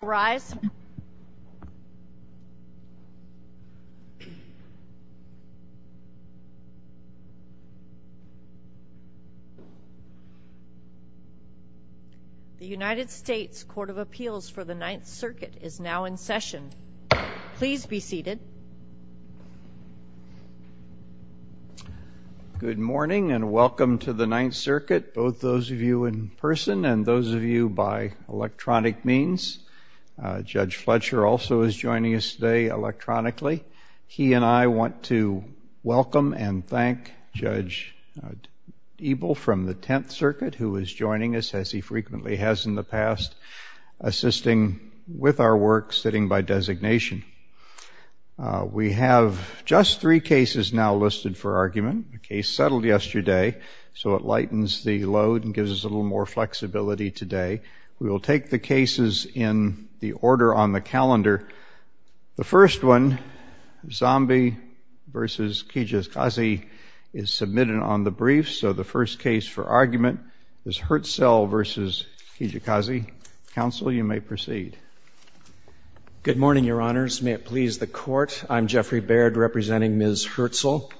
The United States Court of Appeals for the Ninth Circuit is now in session. Please be seated. Good morning and welcome to the Ninth Circuit, both those of you in person and those of you by Judge Fletcher also is joining us today electronically. He and I want to welcome and thank Judge Ebel from the Tenth Circuit who is joining us, as he frequently has in the past, assisting with our work sitting by designation. We have just three cases now listed for argument, a case settled yesterday, so it lightens the load and gives us a little more flexibility today. We will take the cases in the order on the calendar. The first one, Zambi v. Kijakazi, is submitted on the brief, so the first case for argument is Hirtzel v. Kijakazi. Council, you may proceed. Good morning, Your Honors. May it please the Court, I'm Jeffrey Baird representing Ms. Hirtzel.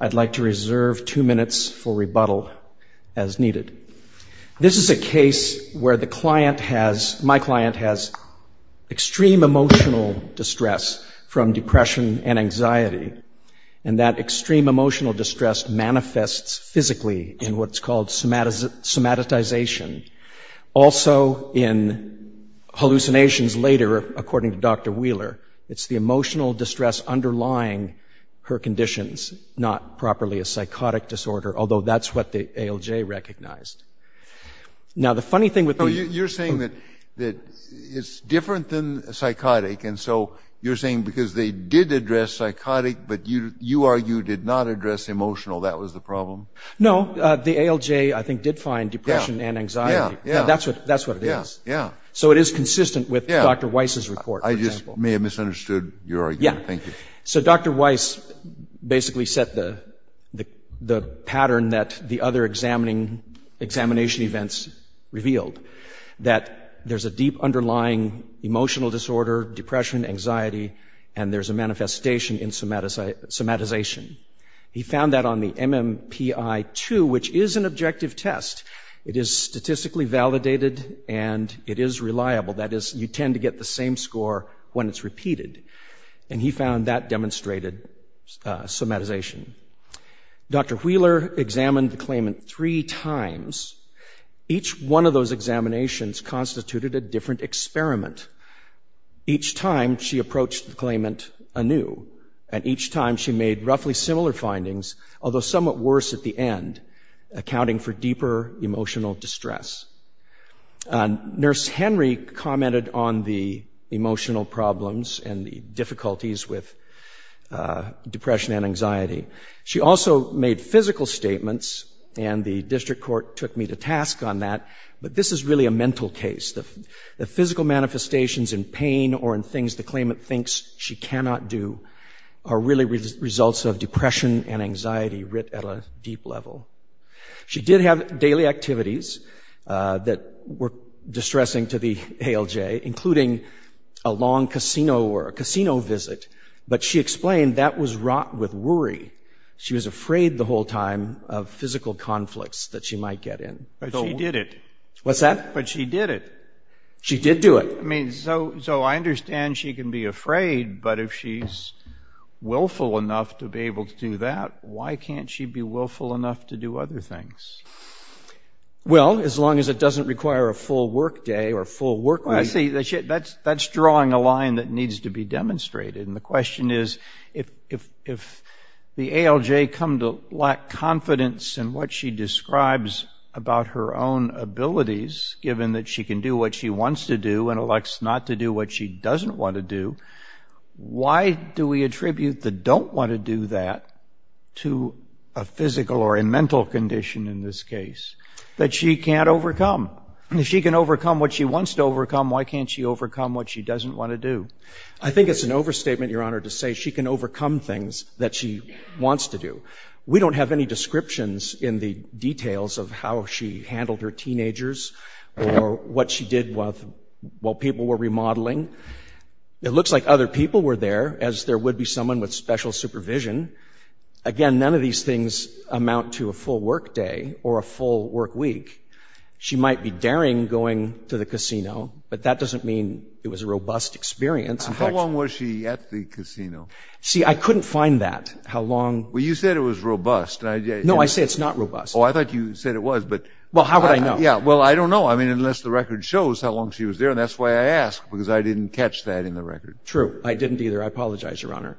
I'd like to reserve two minutes for rebuttal as needed. This is a case where my client has extreme emotional distress from depression and anxiety, and that extreme emotional distress manifests physically in what's called somatization. Also in hallucinations later, according to Dr. Wheeler, it's the emotional distress underlying her conditions, not properly a psychotic disorder, although that's what the ALJ recognized. Now, the funny thing with the... No, you're saying that it's different than psychotic, and so you're saying because they did address psychotic, but you argue did not address emotional, that was the problem? No, the ALJ, I think, did find depression and anxiety. That's what it is. So it is consistent with Dr. Weiss's report, for example. I just may have misunderstood your argument. Thank you. So Dr. Weiss basically set the pattern that the other examining events revealed, that there's a deep underlying emotional disorder, depression, anxiety, and there's a manifestation in somatization. He found that on the MMPI-2, which is an objective test. It is statistically validated, and it is reliable. That is, you tend to get the same score when it's repeated, and he found that demonstrated somatization. Dr. Wheeler examined the claimant three times. Each one of those examinations constituted a different experiment. Each time she approached the claimant anew, and each time she made roughly similar findings, although somewhat worse at the end, accounting for deeper emotional distress. Nurse Henry commented on the emotional problems and the difficulties with depression and anxiety. She also made physical statements, and the district court took me to task on that, but this is really a mental case. The physical manifestations in pain or in things the claimant thinks she cannot do are really results of depression and anxiety writ at a deep level. She did have daily activities that were distressing to the ALJ, including a long casino visit, but she explained that was wrought with worry. She was afraid the whole time of physical conflicts that she might get in. But she did it. What's that? But she did it. She did do it. I mean, so I understand she can be afraid, but if she's willful enough to be able to do that, why can't she be willful enough to do other things? Well, as long as it doesn't require a full workday or full workweek. Well, I see. That's drawing a line that needs to be demonstrated, and the question is, if the ALJ come to lack confidence in what she describes about her own abilities, given that she can do what she wants to do and elects not to do what she doesn't want to do, why do we attribute the don't want to do that to a physical or a mental condition in this that she can't overcome? If she can overcome what she wants to overcome, why can't she overcome what she doesn't want to do? I think it's an overstatement, Your Honor, to say she can overcome things that she wants to do. We don't have any descriptions in the details of how she handled her teenagers or what she did while people were remodeling. It looks like other people were there, as there would be someone with special supervision. Again, none of these things amount to a full workday or a full workweek. She might be daring going to the casino, but that doesn't mean it was a robust experience. How long was she at the casino? See, I couldn't find that, how long... Well, you said it was robust. No, I say it's not robust. Oh, I thought you said it was, but... Well, how would I know? Yeah, well, I don't know. I mean, unless the record shows how long she was there, and that's why I asked, because I didn't catch that in the record. True. I didn't either. I apologize, Your Honor.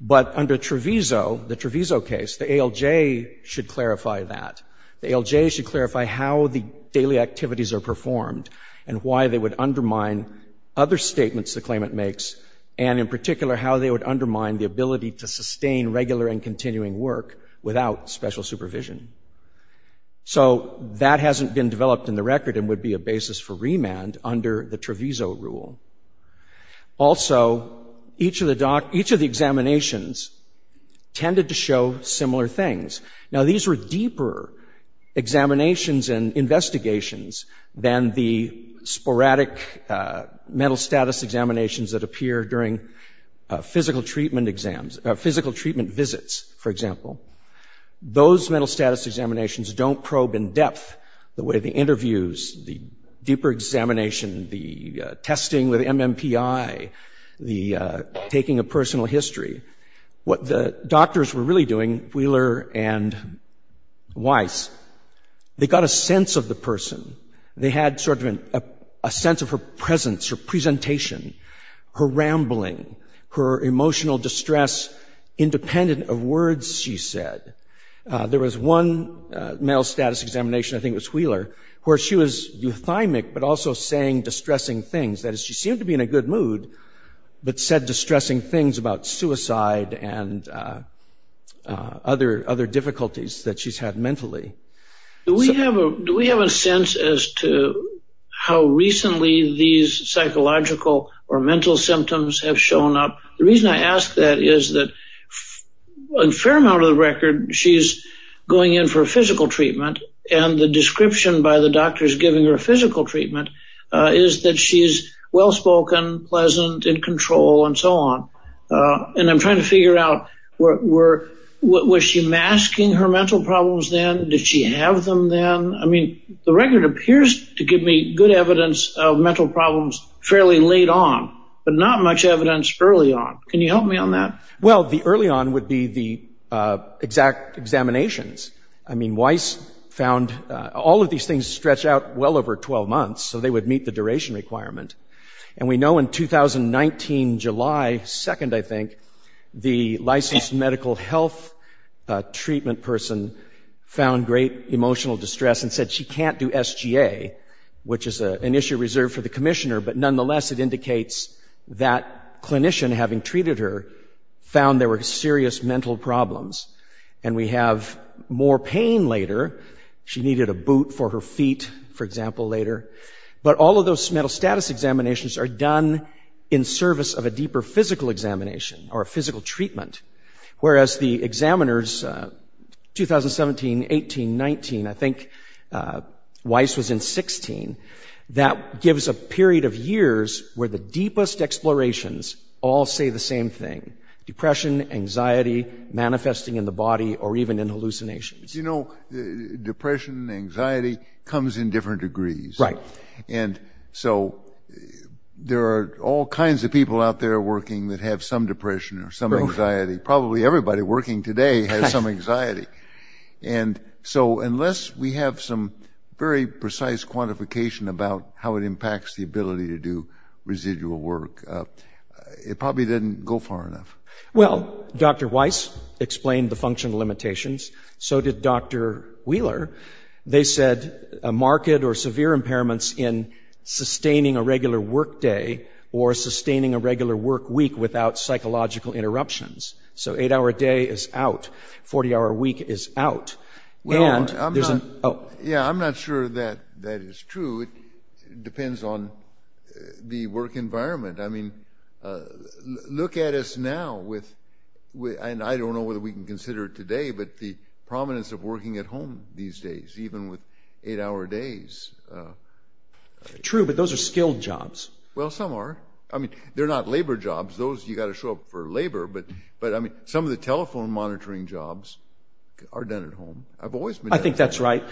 But under Treviso, the Treviso case, the ALJ should clarify that. The ALJ should clarify how the daily activities are performed and why they would undermine other statements the claimant makes, and in particular, how they would undermine the ability to sustain regular and continuing work without special supervision. So that hasn't been developed in the record and would be a basis for a review of the case. Now, these were deeper examinations and investigations than the sporadic mental status examinations that appear during physical treatment visits, for example. Those mental status examinations don't probe in depth the way the interviews, the deeper What the doctors were really doing, Wheeler and Weiss, they got a sense of the person. They had sort of a sense of her presence, her presentation, her rambling, her emotional distress independent of words she said. There was one mental status examination, I think it was Wheeler, where she was euthymic but also saying distressing things. That is, she seemed to be in a good mood but said distressing things about suicide and other difficulties that she's had mentally. Do we have a sense as to how recently these psychological or mental symptoms have shown up? The reason I ask that is that in a fair amount of the record, she's going in for physical treatment, and the description by the doctors giving her physical treatment is that she's well-spoken, pleasant, in control, and so on. And I'm trying to figure out, was she masking her mental problems then? Did she have them then? I mean, the record appears to give me good evidence of mental problems fairly late on, but not much evidence early on. Can you help me on that? Well, the early on would be the exact examinations. I mean, Weiss found all of these things stretched out well over 12 months, so they would meet the duration requirement. And we know in 2019, July 2nd, I think, the licensed medical health treatment person found great emotional distress and said she can't do SGA, which is an issue reserved for the commissioner. But nonetheless, it indicates that clinician, having treated her, found there were serious mental problems. And we have more pain later. She needed a boot for her feet, for example, later. But all of those mental status examinations are done in service of a deeper physical examination or physical treatment, whereas the examiners, 2017, 18, 19, I think Weiss was in 16, that gives a period of years where the deepest explorations all say the same thing, depression, anxiety manifesting in the body or even in hallucinations. You know, depression, anxiety comes in different degrees. Right. And so there are all kinds of people out there working that have some depression or some anxiety. Probably everybody working today has some anxiety. And so unless we have some very residual work, it probably didn't go far enough. Well, Dr. Weiss explained the functional limitations. So did Dr. Wheeler. They said a market or severe impairments in sustaining a regular work day or sustaining a regular work week without psychological interruptions. So eight hour day is out. Forty hour week is out. Well, I'm not sure that that is true. It depends on the work environment. I mean, look at us now with and I don't know whether we can consider it today, but the prominence of working at home these days, even with eight hour days. True, but those are skilled jobs. Well, some are. I mean, they're not labor jobs. Those you got to show up for labor. But but I mean, some of the telephone monitoring jobs are done at home. I've always been. I think that's right.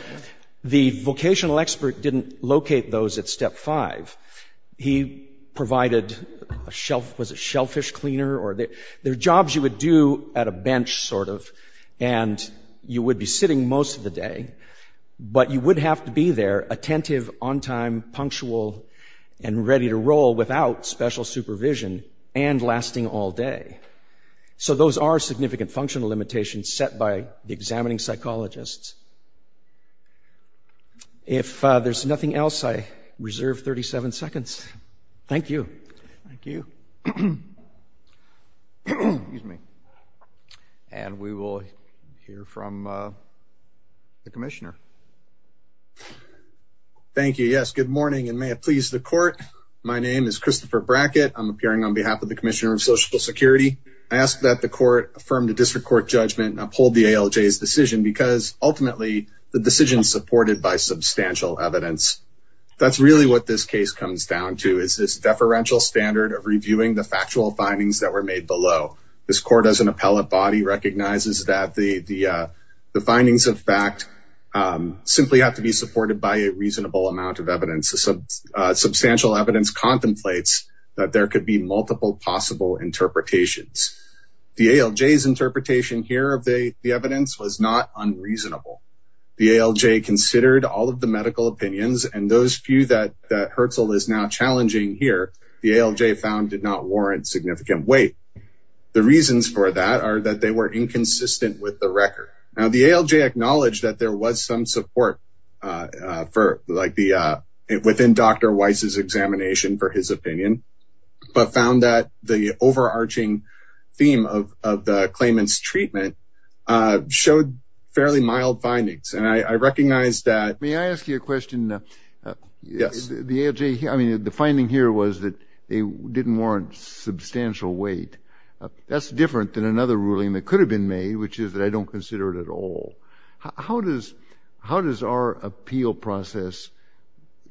The vocational expert didn't locate those at step five. He provided a shelf was a shellfish cleaner or their jobs you would do at a bench sort of. And you would be sitting most of the day, but you would have to be there attentive on time, punctual and ready to roll without special supervision and lasting all day. So those are significant functional limitations set by the examining psychologists. If there's nothing else, I reserve 37 seconds. Thank you. Thank you. Excuse me. And we will hear from the commissioner. Thank you. Yes. Good morning. And may it please the court. My name is Christopher Brackett. I'm the court from the district court judgment and uphold the ALJ's decision because ultimately, the decision supported by substantial evidence. That's really what this case comes down to is this deferential standard of reviewing the factual findings that were made below. This court as an appellate body recognizes that the the findings of fact simply have to be supported by a reasonable amount of evidence. So substantial evidence contemplates that there could be multiple possible interpretations. The ALJ's interpretation here of the evidence was not unreasonable. The ALJ considered all of the medical opinions and those few that that hurts all is now challenging here. The ALJ found did not warrant significant weight. The reasons for that are that they were inconsistent with the record. Now the ALJ acknowledged that there was support for like the within Dr. Weiss's examination for his opinion, but found that the overarching theme of the claimant's treatment showed fairly mild findings. And I recognize that may I ask you a question? Yes, the ALJ. I mean, the finding here was that they didn't warrant substantial weight. That's different than another ruling that could have been made, which is that I don't consider it at all. How does how does our appeal process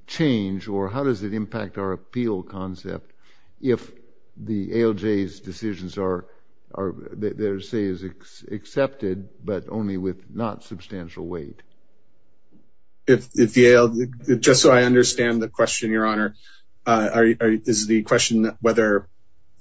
change or how does it impact our appeal concept if the ALJ's decisions are are there say is accepted but only with not substantial weight? If the ALJ, just so I understand the question, your honor, is the question whether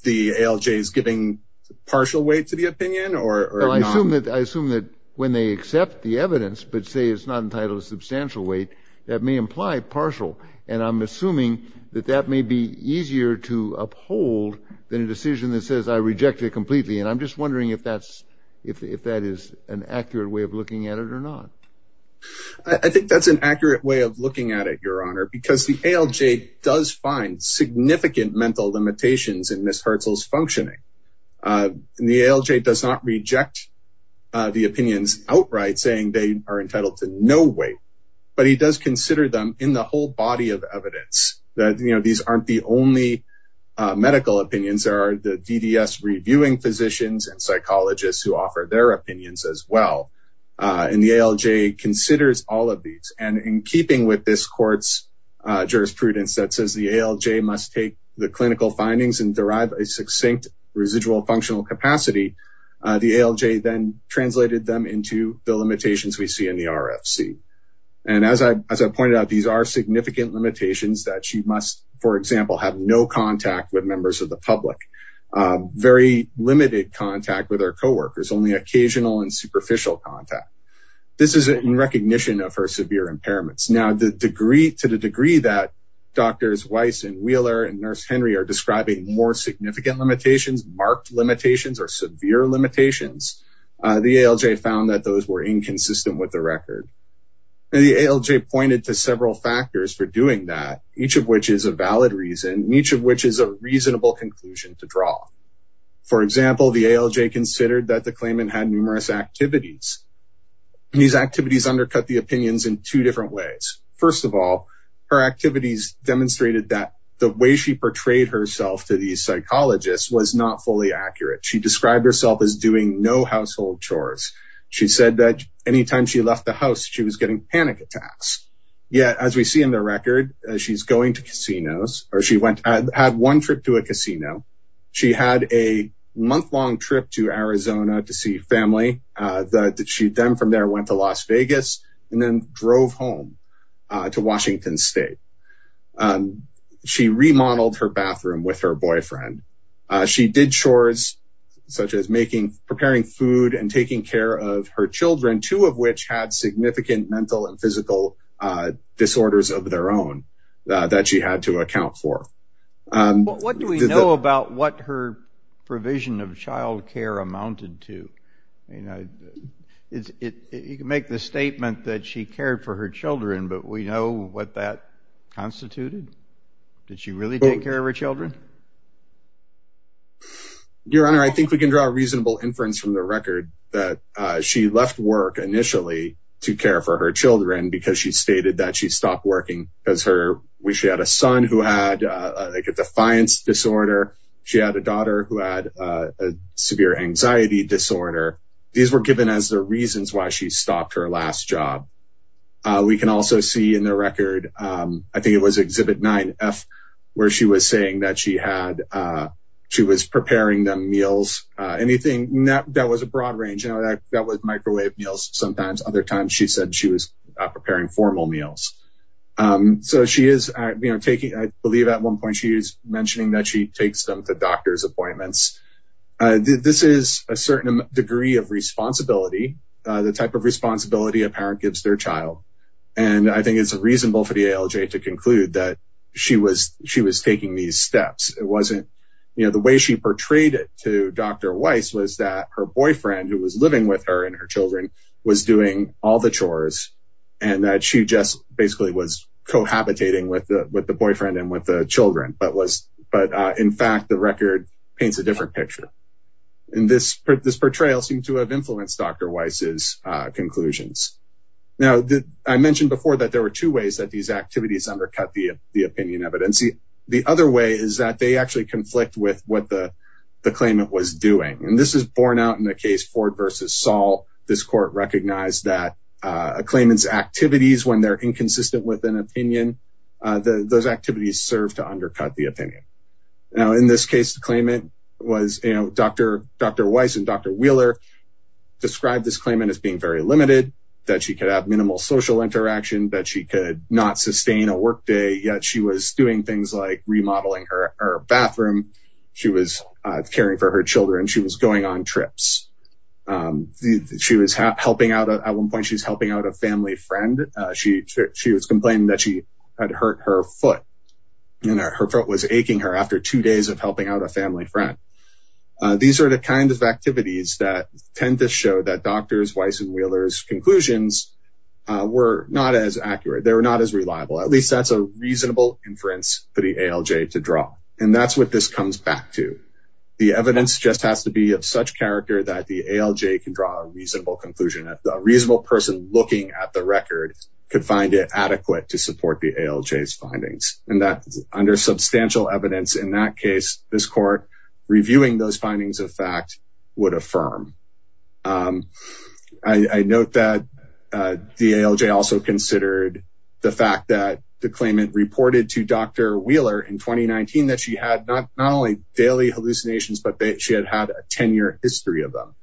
the ALJ is giving partial weight to the opinion or I assume that I assume that when they accept the evidence but say it's not entitled to substantial weight, that may imply partial. And I'm assuming that that may be easier to uphold than a decision that says I reject it completely. And I'm just wondering if that's if that is an accurate way of looking at it or not. I think that's an accurate way of looking at it, your honor, because the ALJ does find significant mental limitations in Ms. Hertzel's functioning. And the ALJ does not reject the opinions outright saying they are entitled to no weight, but he does consider them in the whole body of evidence that, you know, these aren't the only medical opinions. There are the DDS reviewing physicians and psychologists who offer their opinions as well. And the ALJ considers all of these. And in keeping with this court's jurisprudence that says the ALJ must take the clinical findings and derive a succinct residual functional capacity, the ALJ then translated them into the limitations we see in the RFC. And as I pointed out, these are significant limitations that she must, for example, have no contact with members of the public, very limited contact with co-workers, only occasional and superficial contact. This is in recognition of her severe impairments. Now, to the degree that Drs. Weiss and Wheeler and Nurse Henry are describing more significant limitations, marked limitations or severe limitations, the ALJ found that those were inconsistent with the record. And the ALJ pointed to several factors for doing that, each of which is a valid reason, each of which is a reasonable conclusion to draw. For example, the ALJ considered that the claimant had numerous activities. These activities undercut the opinions in two different ways. First of all, her activities demonstrated that the way she portrayed herself to these psychologists was not fully accurate. She described herself as doing no household chores. She said that anytime she left the house, she was getting panic attacks. Yet, as we see in the record, she's going to casinos or she went, had one trip to a casino. She had a month-long trip to Arizona to see family that she then from there went to Las Vegas and then drove home to Washington State. She remodeled her bathroom with her boyfriend. She did chores such as making, preparing food and taking care of her children, two of which had significant mental and physical disorders of their own that she had to account for. What do we know about what her provision of child care amounted to? You can make the statement that she cared for her children, but we know what that constituted. Did she really take care of her children? Your Honor, I think we can draw a reasonable inference from the record that she left work initially to care for her children because she stated that she stopped working because she had a son who had a defiance disorder. She had a daughter who had a severe anxiety disorder. These were given as the reasons why she stopped her last job. We can also see in the record, I think it was Exhibit 9F, where she was saying that she was preparing them meals, anything that was a broad range. That was microwave meals sometimes. Other times, she said she was preparing formal meals. I believe at one point she was mentioning that she takes them to doctor's appointments. This is a certain degree of responsibility, the type of responsibility a parent gives their child. I think it's reasonable for the ALJ to conclude that she was taking these steps. The way she portrayed it to Dr. Weiss was that her boyfriend who was and that she just basically was cohabitating with the boyfriend and with the children. In fact, the record paints a different picture. This portrayal seemed to have influenced Dr. Weiss's conclusions. Now, I mentioned before that there were two ways that these activities undercut the opinion evidence. The other way is that they actually conflict with what the claimant was doing. This is borne out in the case Ford v. Saul. This court recognized that a claimant's activities, when they're inconsistent with an opinion, those activities serve to undercut the opinion. Now, in this case, the claimant was Dr. Weiss and Dr. Wheeler described this claimant as being very limited, that she could have minimal social interaction, that she could not sustain a workday, yet she was doing things like remodeling her bathroom. She was caring for her children. She was going on trips. At one point, she's helping out a family friend. She was complaining that she had hurt her foot. Her foot was aching her after two days of helping out a family friend. These are the kinds of activities that tend to show that Drs. Weiss and Wheeler's conclusions were not as accurate. They were not as reliable. At least that's a reasonable inference for the ALJ to draw. That's what this comes back to. The evidence just has to be of such character that the ALJ can draw a reasonable conclusion. A reasonable person looking at the record could find it adequate to support the ALJ's findings. Under substantial evidence in that case, this court reviewing those findings of fact would affirm. I note that the ALJ also considered the fact that the claimant reported to Dr. Wheeler in 2019 that she had not only daily hallucinations, but that she had had a 10-year history of them.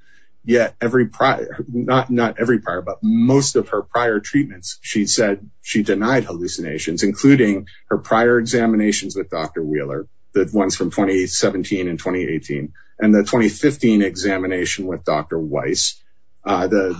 Most of her prior treatments, she said she denied hallucinations, including her prior examinations with Dr. Wheeler, the ones from 2017 and 2018, and the 2015 examination with Dr. Weiss. On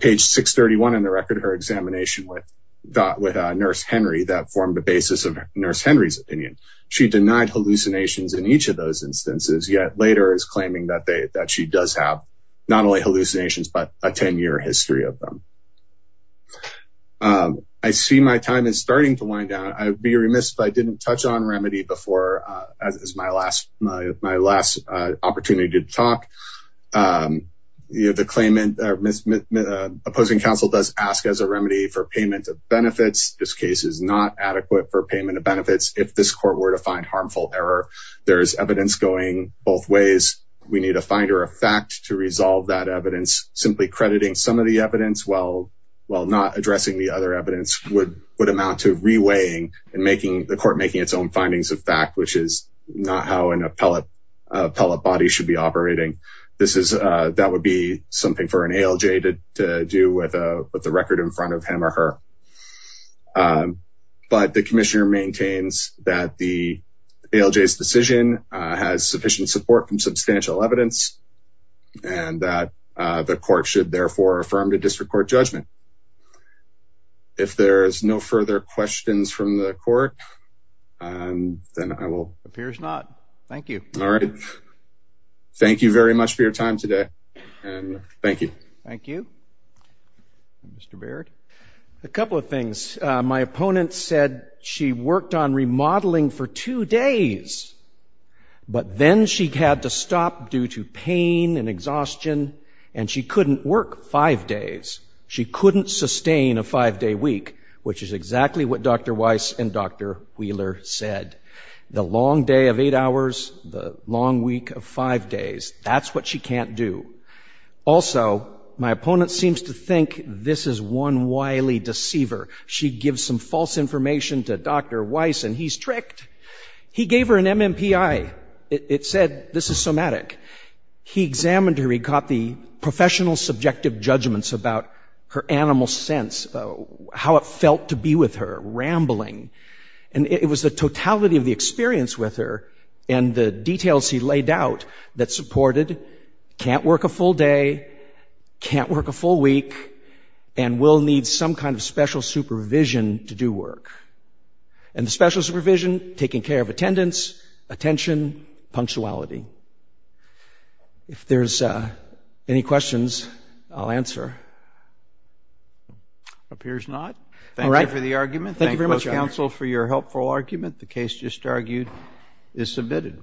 page 631 in the record, her examination with Nurse Henry formed the basis of Nurse Henry's opinion. She denied hallucinations in each of those instances, yet later is claiming that she does have not only hallucinations, but a 10-year history of them. I see my time is starting to wind down. I'd be remiss if I didn't touch on remedy before as my last opportunity to talk. The opposing counsel does ask as a remedy for payment of benefits. This case is not evidence going both ways. We need a finder of fact to resolve that evidence. Simply crediting some of the evidence while not addressing the other evidence would amount to reweighing and the court making its own findings of fact, which is not how an appellate body should be operating. That would be something for an ALJ to do with the record in front of him or her. But the commissioner maintains that the ALJ's decision has sufficient support from substantial evidence and that the court should therefore affirm the district court judgment. If there's no further questions from the court, then I will... Appears not. Thank you. All right. Thank you very much for your time today and thank you. Thank you. Mr. Baird. A couple of things. My opponent said she worked on remodeling for two days, but then she had to stop due to pain and exhaustion and she couldn't work five days. She couldn't sustain a five-day week, which is exactly what Dr. Weiss and Dr. Wheeler said. The long day of eight hours, the long week of five days, that's what she can't do. Also, my opponent seems to think this is one wily deceiver. She gives some false information to Dr. Weiss and he's tricked. He gave her an MMPI. It said this is somatic. He examined her. He caught the professional subjective judgments about her animal sense, how it felt to be with her, rambling, and it was the totality of the experience with her and the details he laid out that supported can't work a full day, can't work a full week, and will need some kind of special supervision to do work. And the special supervision, taking care of attendance, attention, punctuality. If there's any questions, I'll answer. Appears not. Thank you for the argument. Thank you very much. Counsel, for your helpful argument, the case just argued is submitted.